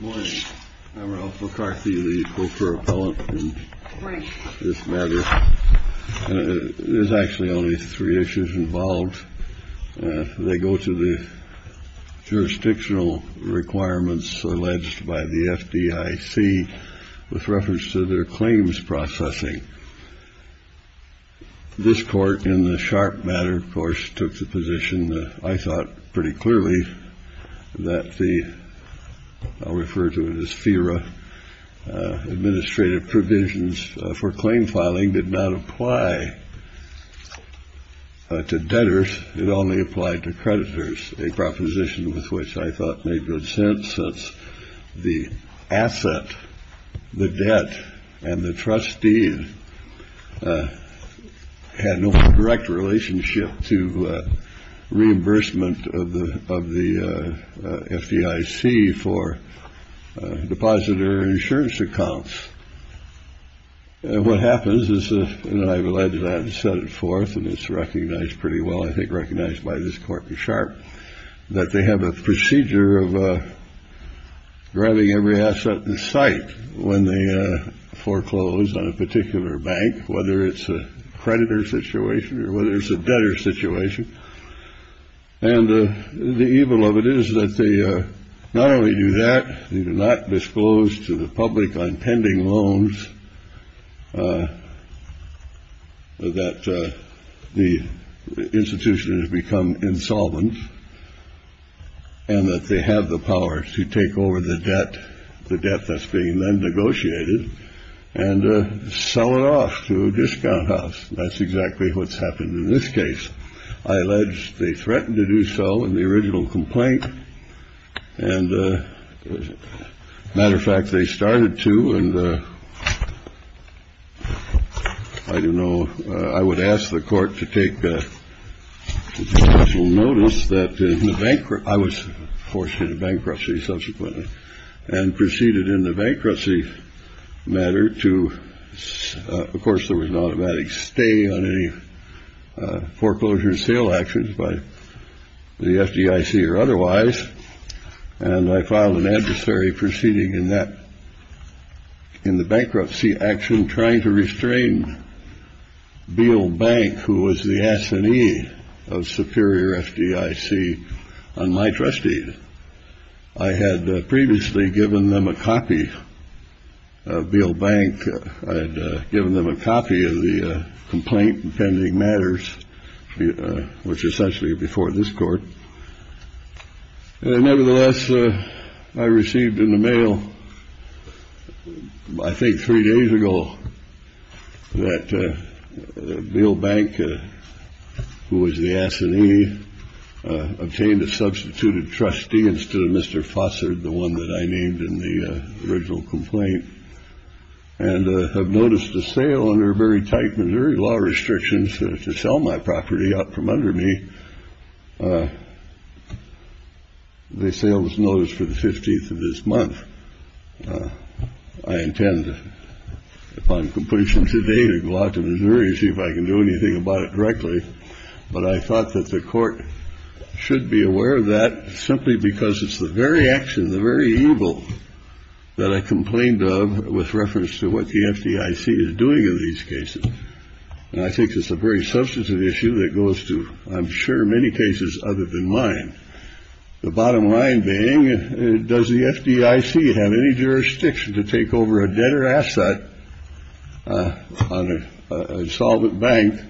Morning. I'm Ralph McCarthy, the co-chair appellant in this matter. There's actually only three issues involved. They go to the jurisdictional requirements alleged by the FDIC with reference to their claims processing. This court in the Sharpe matter, of course, took the position that I thought pretty clearly that the, I'll refer to it as FERA, administrative provisions for claim filing did not apply to debtors. It only applied to creditors, a proposition with which I thought made good sense since the asset, the debt and the trustee had no direct relationship to reimbursement of the of the FDIC for depositor insurance accounts. And what happens is, you know, I've alleged that and set it forth and it's recognized pretty well, I think recognized by this court in Sharpe that they have a procedure of grabbing every asset in sight when they foreclose on a particular bank, whether it's a creditor situation or whether it's a debtor situation. And the evil of it is that they not only do that, they do not disclose to the public on pending loans that the institution has become insolvent. And that they have the power to take over the debt, the debt that's being negotiated and sell it off to a discount house. That's exactly what's happened in this case. I allege they threatened to do so in the original complaint. And as a matter of fact, they started to. And I don't know. I would ask the court to take a little notice that I was forced into bankruptcy subsequently and proceeded in the bankruptcy matter to. Of course, there was an automatic stay on any foreclosure sale actions by the FDIC or otherwise. And I filed an adversary proceeding in that. In the bankruptcy action, trying to restrain Beale Bank, who was the assignee of superior FDIC on my trustees. I had previously given them a copy of Beale Bank. I had given them a copy of the complaint in pending matters, which is essentially before this court. Nevertheless, I received in the mail. I think three days ago that Beale Bank, who was the assignee, obtained a substituted trustee instead of Mr. Fossard, the one that I named in the original complaint. And I've noticed a sale under very tight Missouri law restrictions to sell my property up from under me. The sales notice for the 15th of this month. I intend upon completion today to go out to Missouri, see if I can do anything about it directly. But I thought that the court should be aware of that simply because it's the very action, the very evil that I complained of with reference to what the FDIC is doing in these cases. And I think it's a very substantive issue that goes to, I'm sure, many cases other than mine. The bottom line being, does the FDIC have any jurisdiction to take over a debtor asset on a solvent bank?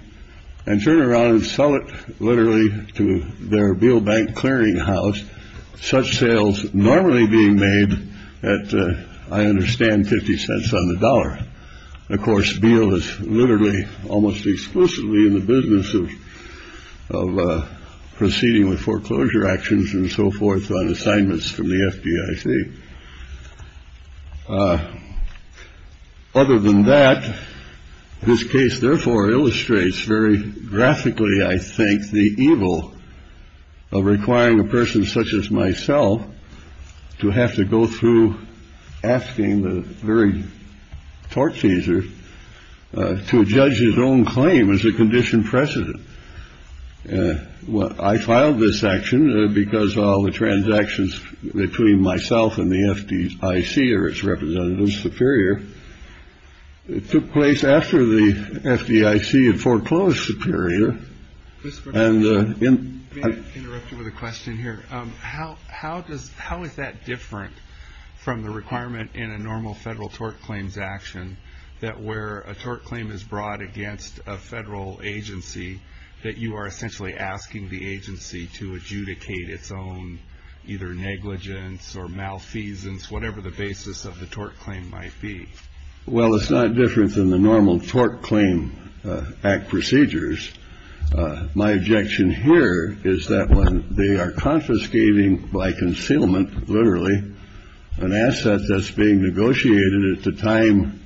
And turn around and sell it literally to their Beale Bank clearinghouse. Such sales normally being made at, I understand, 50 cents on the dollar. Of course, Beale is literally almost exclusively in the business of proceeding with foreclosure actions and so forth on assignments from the FDIC. Other than that, this case, therefore, illustrates very graphically, I think, the evil of requiring a person such as myself to have to go through asking the very tort chaser to judge his own claim as a condition precedent. Well, I filed this action because all the transactions between myself and the FDIC or its representatives superior. It took place after the FDIC had foreclosed superior and interrupted with a question here. How how does how is that different from the requirement in a normal federal tort claims action that is brought against a federal agency that you are essentially asking the agency to adjudicate its own either negligence or malfeasance, whatever the basis of the tort claim might be? Well, it's not different than the normal tort claim procedures. My objection here is that when they are confiscating by concealment, literally an asset that's being negotiated at the time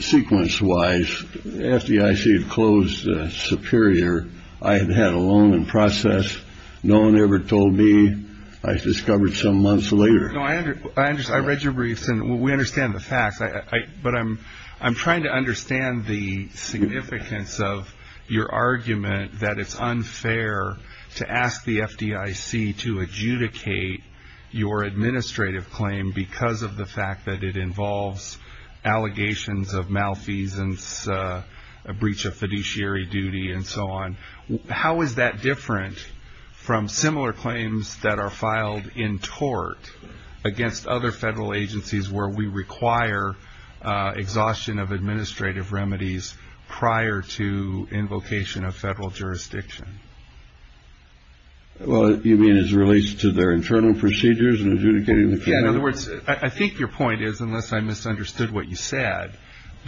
sequence wise. FDIC had closed superior. I had had a long process. No one ever told me. I discovered some months later. I understand. I read your briefs and we understand the facts. But I'm I'm trying to understand the significance of your argument that it's unfair to ask the FDIC to adjudicate your administrative claim because of the fact that it involves allegations of malfeasance, a breach of fiduciary duty and so on. How is that different from similar claims that are filed in tort against other federal agencies where we require exhaustion of administrative remedies prior to invocation of federal jurisdiction? Well, you mean as relates to their internal procedures and adjudicating? I think your point is, unless I misunderstood what you said,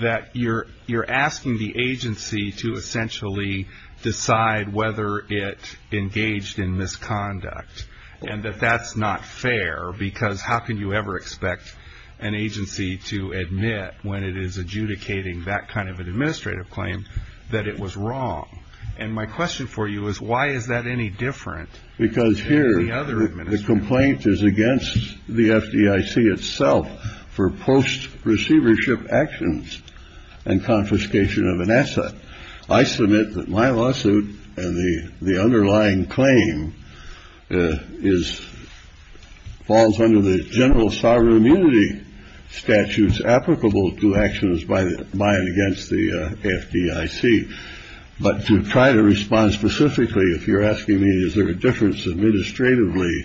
that you're you're asking the agency to essentially decide whether it engaged in misconduct and that that's not fair, because how can you ever expect an agency to admit when it is adjudicating that kind of an administrative claim that it was wrong? And my question for you is, why is that any different? Because here the other complaint is against the FDIC itself for post receivership actions and confiscation of an asset. I submit that my lawsuit and the underlying claim is falls under the general sovereign immunity statutes applicable to actions by the by and against the FDIC. But to try to respond specifically, if you're asking me, is there a difference administratively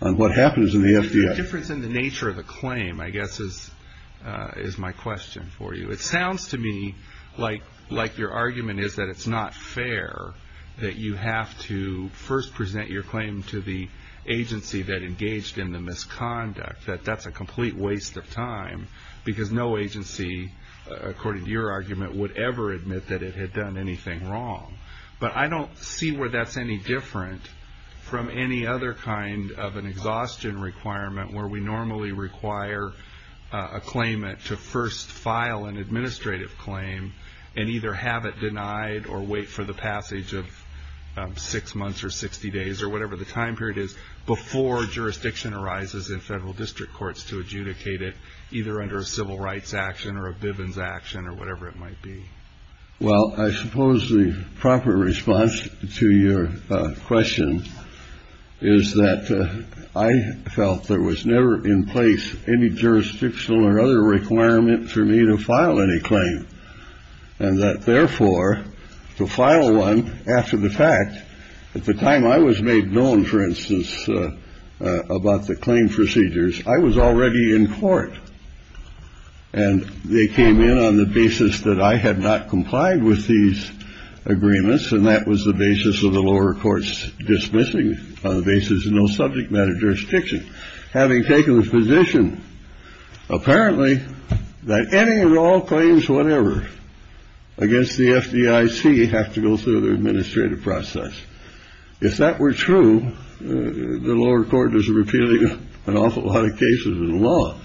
on what happens in the FDIC? The difference in the nature of the claim, I guess, is is my question for you. It sounds to me like like your argument is that it's not fair that you have to first present your claim to the agency that engaged in the misconduct, that that's a complete waste of time because no agency, according to your argument, would ever admit that it had done anything wrong. But I don't see where that's any different from any other kind of an exhaustion requirement where we normally require a claimant to first file an administrative claim and either have it denied or wait for the passage of six months or 60 days or whatever the time period is before jurisdiction arises in federal district courts to adjudicate it, either under civil rights action or a Bivens action or whatever it might be. Well, I suppose the proper response to your question is that I felt there was never in place any jurisdictional or other requirement for me to file any claim. And that therefore, to file one after the fact, at the time I was made known, for instance, about the claim procedures, I was already in court. And they came in on the basis that I had not complied with these agreements. And that was the basis of the lower courts dismissing the basis of no subject matter jurisdiction. Having taken the position, apparently, that any and all claims, whatever, against the FDIC have to go through the administrative process. If that were true, the lower court is repealing an awful lot of cases in the law.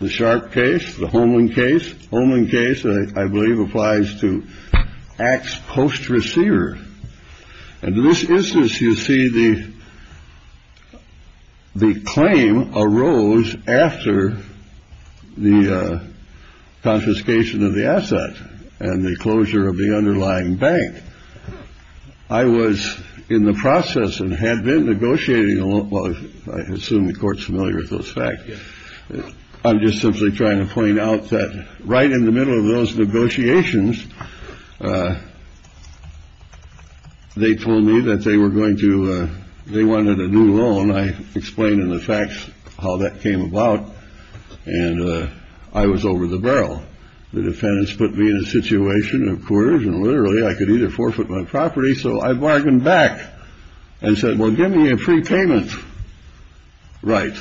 The Sharp case, the Holman case, Holman case, I believe, applies to acts post-receiver. And in this instance, you see, the claim arose after the confiscation of the asset and the closure of the underlying bank. I was in the process and had been negotiating along. I assume the court's familiar with those facts. I'm just simply trying to point out that right in the middle of those negotiations, they told me that they were going to they wanted a new loan. I explained in the facts how that came about. And I was over the barrel. The defendants put me in a situation of coercion. Literally, I could either forfeit my property. So I bargained back and said, well, give me a free payment. Right.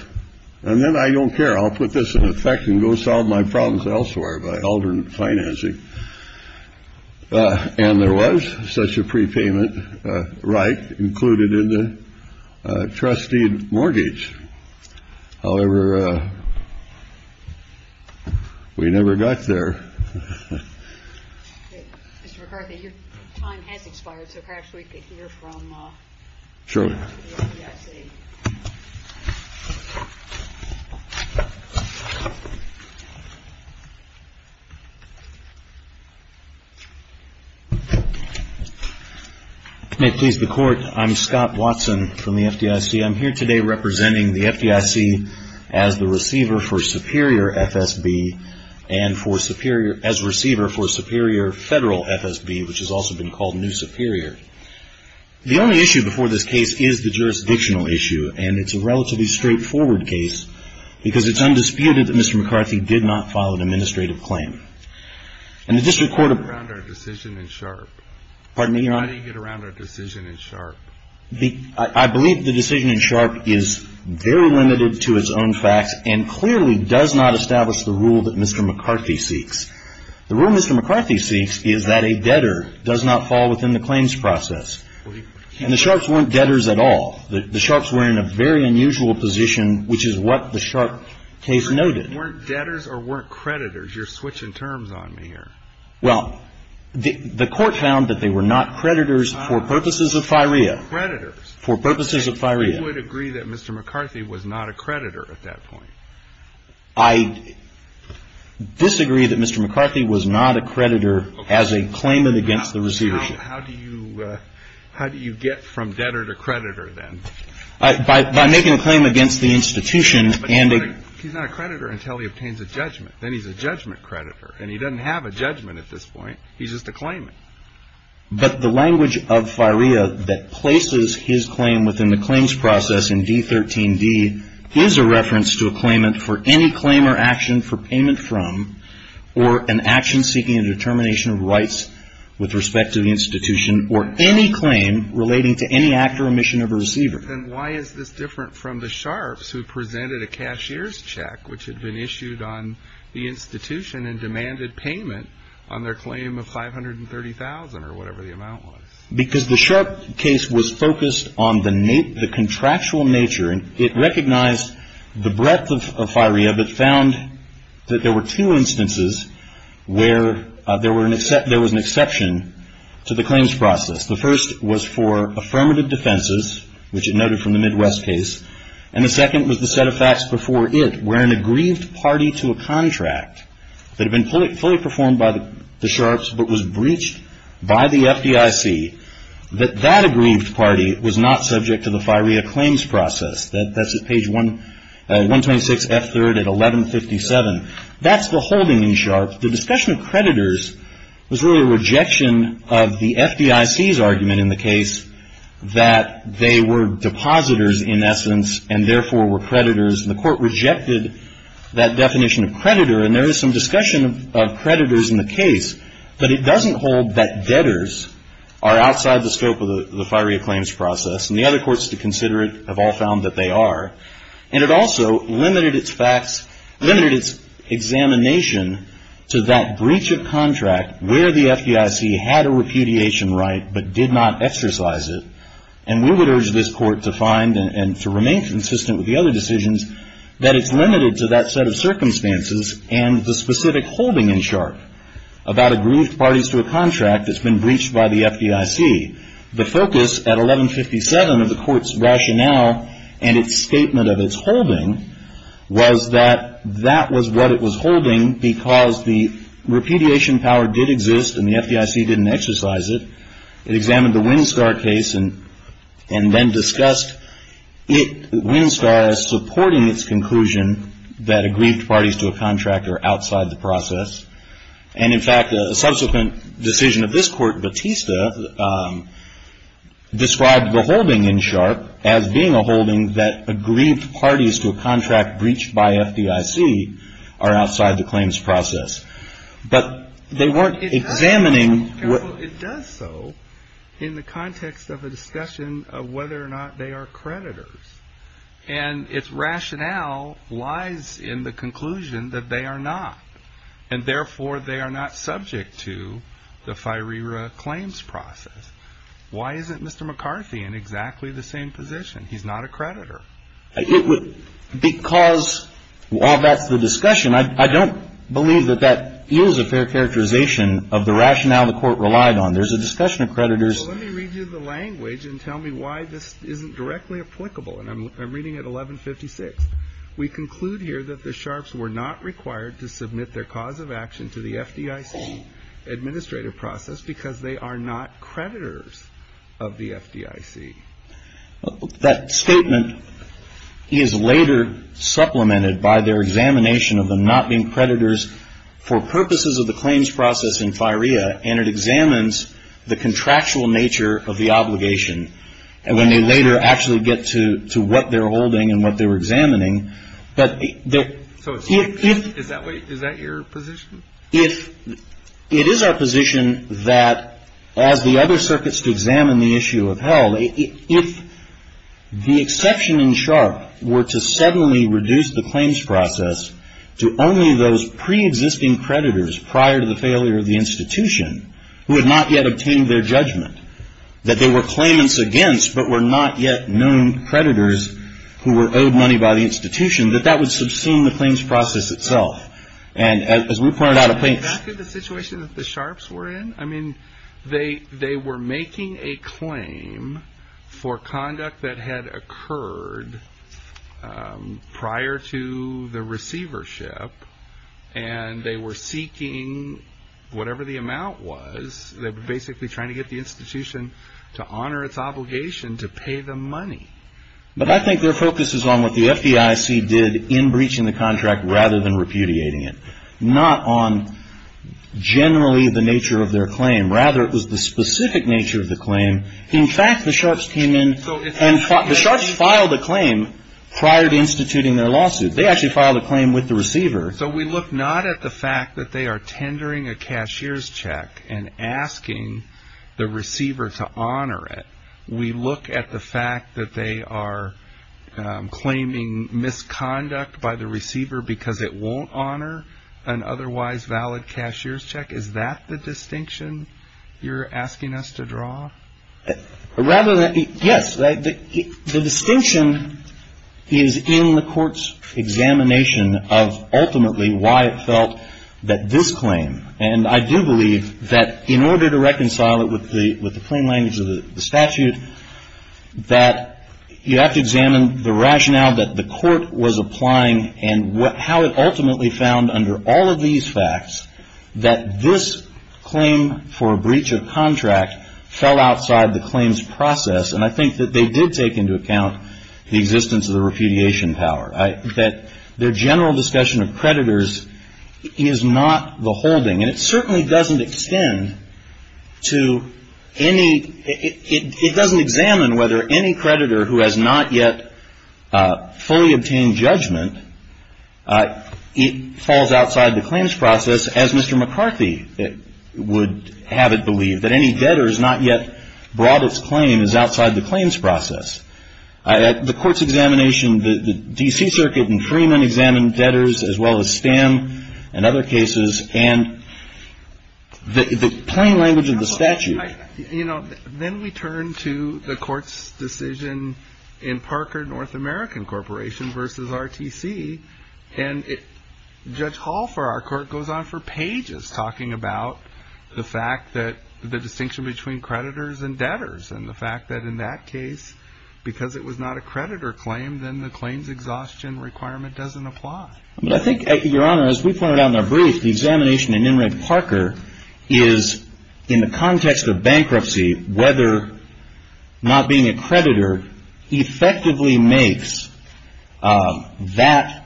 And then I don't care. I'll put this in effect and go solve my problems elsewhere by alternate financing. And there was such a prepayment right included in the trustee mortgage. However, we never got there. Mr. McCarthy, your time has expired, so perhaps we could hear from the FDIC. Sure. May it please the Court, I'm Scott Watson from the FDIC. I'm here today representing the FDIC as the receiver for Superior FSB and as receiver for Superior Federal FSB, which has also been called New Superior. The only issue before this case is the jurisdictional issue. And it's a relatively straightforward case because it's undisputed that Mr. McCarthy did not file an administrative claim. And the district court of... How do you get around our decision in Sharpe? Pardon me, Your Honor? How do you get around our decision in Sharpe? I believe the decision in Sharpe is very limited to its own facts and clearly does not establish the rule that Mr. McCarthy seeks. The rule Mr. McCarthy seeks is that a debtor does not fall within the claims process. And the Sharpes weren't debtors at all. The Sharpes were in a very unusual position, which is what the Sharpe case noted. Weren't debtors or weren't creditors? You're switching terms on me here. Well, the Court found that they were not creditors for purposes of FIREA. Creditors. For purposes of FIREA. You would agree that Mr. McCarthy was not a creditor at that point? I disagree that Mr. McCarthy was not a creditor as a claimant against the receivership. How do you get from debtor to creditor then? By making a claim against the institution and a... He's not a creditor until he obtains a judgment. Then he's a judgment creditor. And he doesn't have a judgment at this point. He's just a claimant. But the language of FIREA that places his claim within the claims process in D13D is a reference to a claimant for any claim or action for payment from or an action seeking a determination of rights with respect to the institution or any claim relating to any act or omission of a receiver. Then why is this different from the Sharps who presented a cashier's check which had been issued on the institution and demanded payment on their claim of $530,000 or whatever the amount was? Because the Sharps case was focused on the contractual nature. It recognized the breadth of FIREA but found that there were two instances where there was an exception to the claims process. The first was for affirmative defenses, which it noted from the Midwest case. And the second was the set of facts before it where an aggrieved party to a contract that had been fully performed by the Sharps but was breached by the FDIC, that that aggrieved party was not subject to the FIREA claims process. That's at page 126F3 at 1157. That's the holding in Sharps. The discussion of creditors was really a rejection of the FDIC's argument in the case that they were depositors in essence and therefore were creditors and the court rejected that definition of creditor. And there is some discussion of creditors in the case, but it doesn't hold that debtors are outside the scope of the FIREA claims process. And the other courts to consider it have all found that they are. And it also limited its examination to that breach of contract where the FDIC had a repudiation right but did not exercise it. And we would urge this court to find and to remain consistent with the other decisions that it's limited to that set of circumstances and the specific holding in Sharps about aggrieved parties to a contract that's been breached by the FDIC. The focus at 1157 of the court's rationale and its statement of its holding was that that was what it was holding because the repudiation power did exist and the FDIC didn't exercise it. It examined the Winstar case and then discussed Winstar as supporting its conclusion that aggrieved parties to a contract are outside the process. And, in fact, a subsequent decision of this court, Batista, described the holding in Sharp as being a holding that aggrieved parties to a contract breached by FDIC are outside the claims process. But they weren't examining what... It does so in the context of a discussion of whether or not they are creditors. And its rationale lies in the conclusion that they are not. And, therefore, they are not subject to the FIRERA claims process. Why isn't Mr. McCarthy in exactly the same position? He's not a creditor. Because while that's the discussion, I don't believe that that yields a fair characterization of the rationale the court relied on. There's a discussion of creditors... Well, let me read you the language and tell me why this isn't directly applicable. And I'm reading at 1156. We conclude here that the Sharps were not required to submit their cause of action to the FDIC administrative process because they are not creditors of the FDIC. That statement is later supplemented by their examination of them not being creditors for purposes of the claims process in FIRERA. And it examines the contractual nature of the obligation. And when they later actually get to what they're holding and what they're examining, but... So is that your position? It is our position that as the other circuits to examine the issue upheld, if the exception in Sharp were to suddenly reduce the claims process to only those preexisting creditors prior to the failure of the institution who had not yet obtained their judgment, that there were claimants against, but were not yet known creditors who were owed money by the institution, that that would subsume the claims process itself. And as we pointed out... Is that the situation that the Sharps were in? I mean, they were making a claim for conduct that had occurred prior to the receivership, and they were seeking whatever the amount was. They were basically trying to get the institution to honor its obligation to pay them money. But I think their focus is on what the FDIC did in breaching the contract rather than repudiating it, not on generally the nature of their claim. Rather, it was the specific nature of the claim. In fact, the Sharps came in and the Sharps filed a claim prior to instituting their lawsuit. They actually filed a claim with the receiver. So we look not at the fact that they are tendering a cashier's check and asking the receiver to honor it. We look at the fact that they are claiming misconduct by the receiver because it won't honor an otherwise valid cashier's check. Is that the distinction you're asking us to draw? Yes. The distinction is in the court's examination of ultimately why it felt that this claim, and I do believe that in order to reconcile it with the plain language of the statute, that you have to examine the rationale that the court was applying and how it ultimately found under all of these facts that this claim for breach of contract fell outside the claims process. And I think that they did take into account the existence of the repudiation power, that their general discussion of creditors is not the holding. And it certainly doesn't extend to any ‑‑ it doesn't examine whether any creditor who has not yet fully obtained judgment, it falls outside the claims process as Mr. McCarthy would have it believed, that any debtors not yet brought its claim is outside the claims process. The court's examination, the D.C. Circuit and Freeman examined debtors as well as Stan and other cases, and the plain language of the statute. Then we turn to the court's decision in Parker North American Corporation versus RTC, and Judge Hall for our court goes on for pages talking about the fact that the distinction between creditors and debtors and the fact that in that case, because it was not a creditor claim, then the claims exhaustion requirement doesn't apply. I think, Your Honor, as we pointed out in our brief, the examination in Enright Parker is in the context of bankruptcy, whether not being a creditor effectively makes that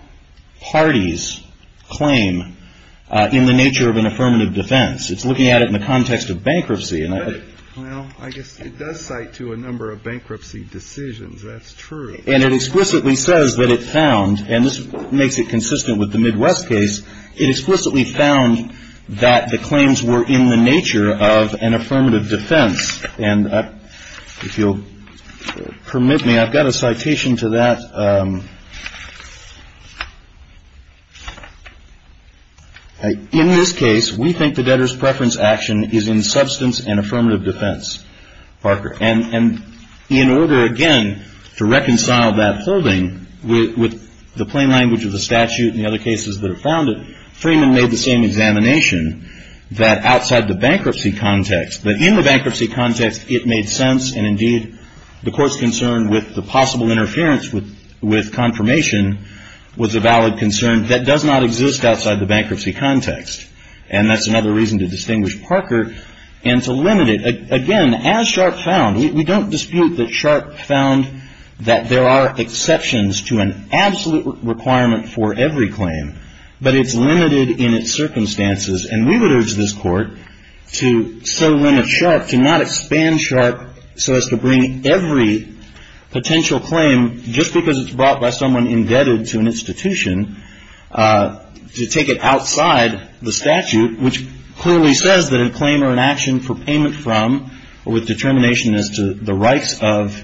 party's claim in the nature of an affirmative defense. It's looking at it in the context of bankruptcy. Well, I guess it does cite to a number of bankruptcy decisions. That's true. And it explicitly says that it found, and this makes it consistent with the Midwest case, it explicitly found that the claims were in the nature of an affirmative defense. And if you'll permit me, I've got a citation to that. In this case, we think the debtor's preference action is in substance and affirmative defense, Parker. And in order, again, to reconcile that holding with the plain language of the statute and the other cases that have found it, Freeman made the same examination that outside the bankruptcy context, that in the bankruptcy context, it made sense and, indeed, the court's concern with the possible interference with confirmation was a valid concern that does not exist outside the bankruptcy context. And that's another reason to distinguish Parker and to limit it. Again, as Sharpe found, we don't dispute that Sharpe found that there are exceptions to an absolute requirement for every claim. But it's limited in its circumstances. And we would urge this Court to so limit Sharpe, to not expand Sharpe so as to bring every potential claim, just because it's brought by someone indebted to an institution, to take it outside the statute, which clearly says that a claim or an action for payment from or with determination as to the rights of,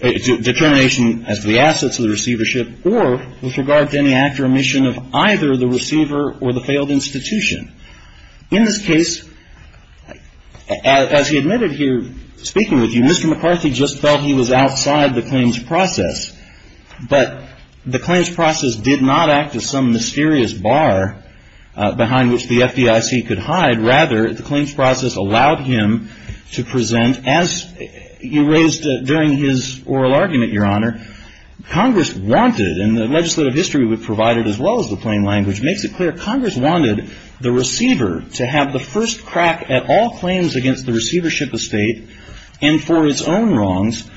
determination as to the assets of the receivership or with regard to any act or omission of either the receiver or the failed institution. In this case, as he admitted here, speaking with you, Mr. McCarthy just felt he was outside the claims process. But the claims process did not act as some mysterious bar behind which the FDIC could hide. Rather, the claims process allowed him to present, as you raised during his oral argument, Your Honor, Congress wanted, and the legislative history would provide it as well as the plain language, makes it clear Congress wanted the receiver to have the first crack at all claims against the receivership estate and for his own wrongs.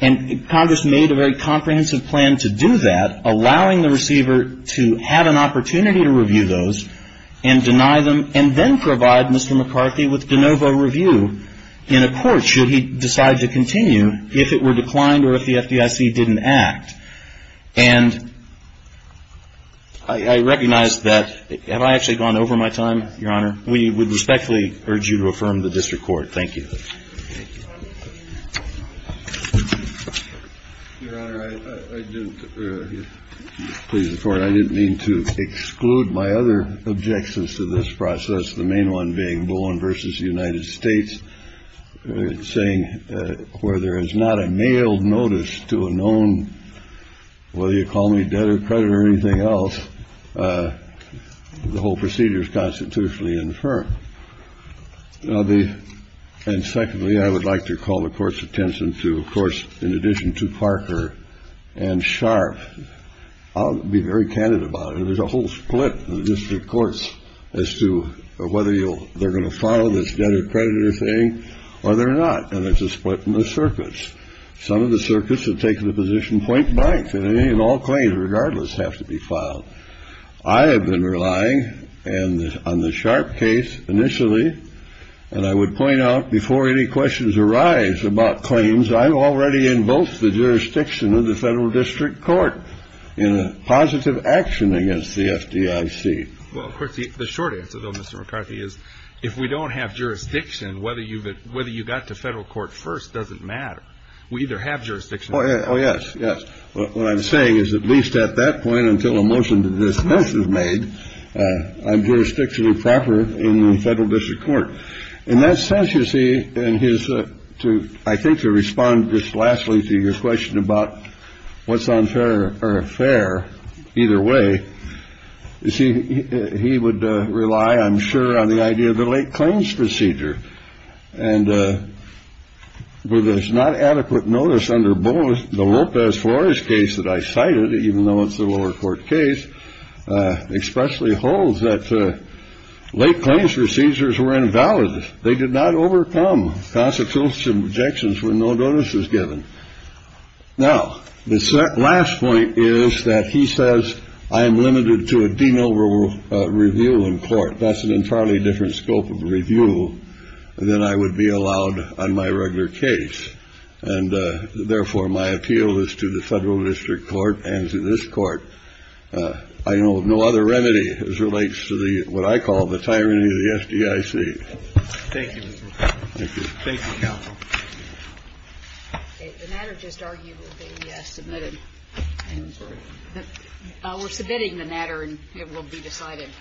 And Congress made a very comprehensive plan to do that, allowing the receiver to have an opportunity to review those and deny them and then provide Mr. McCarthy with de novo review in a court should he decide to continue if it were declined or if the FDIC didn't act. And I recognize that, have I actually gone over my time, Your Honor? We would respectfully urge you to affirm the district court. Thank you. Your Honor, I didn't please the court. I didn't mean to exclude my other objections to this process, the main one being Bowen versus the United States, saying where there is not a mailed notice to a known whether you call me dead or credit or anything else. The whole procedure is constitutionally infirm. And secondly, I would like to call the court's attention to, of course, in addition to Parker and Sharp. I'll be very candid about it. There's a whole split in the district courts as to whether they're going to file this dead or credited thing or they're not. And it's a split in the circuits. Some of the circuits have taken the position point blank that any and all claims regardless have to be filed. I have been relying on the Sharp case initially, and I would point out before any questions arise about claims, I'm already in both the jurisdiction of the federal district court in a positive action against the FDIC. Well, of course, the short answer, though, Mr. McCarthy, is if we don't have jurisdiction, whether you've whether you got to federal court first doesn't matter. We either have jurisdiction. Oh, yes. Yes. Well, what I'm saying is at least at that point, until a motion to dismiss is made, I'm jurisdictionally proper in the federal district court. In that sense, you see, and here's to I think to respond just lastly to your question about what's unfair or fair either way. You see, he would rely, I'm sure, on the idea of the late claims procedure. And with this not adequate notice under both the Lopez Flores case that I cited, even though it's a lower court case, expressly holds that late claims procedures were invalid. They did not overcome constitutional objections when no notice was given. Now, the last point is that he says I am limited to a de novo review in court. That's an entirely different scope of review than I would be allowed on my regular case. And therefore, my appeal is to the federal district court and to this court. I know of no other remedy as relates to the what I call the tyranny of the FDIC. Thank you. Thank you. Thank you, counsel. The matter just argued will be submitted. We're submitting the matter and it will be decided.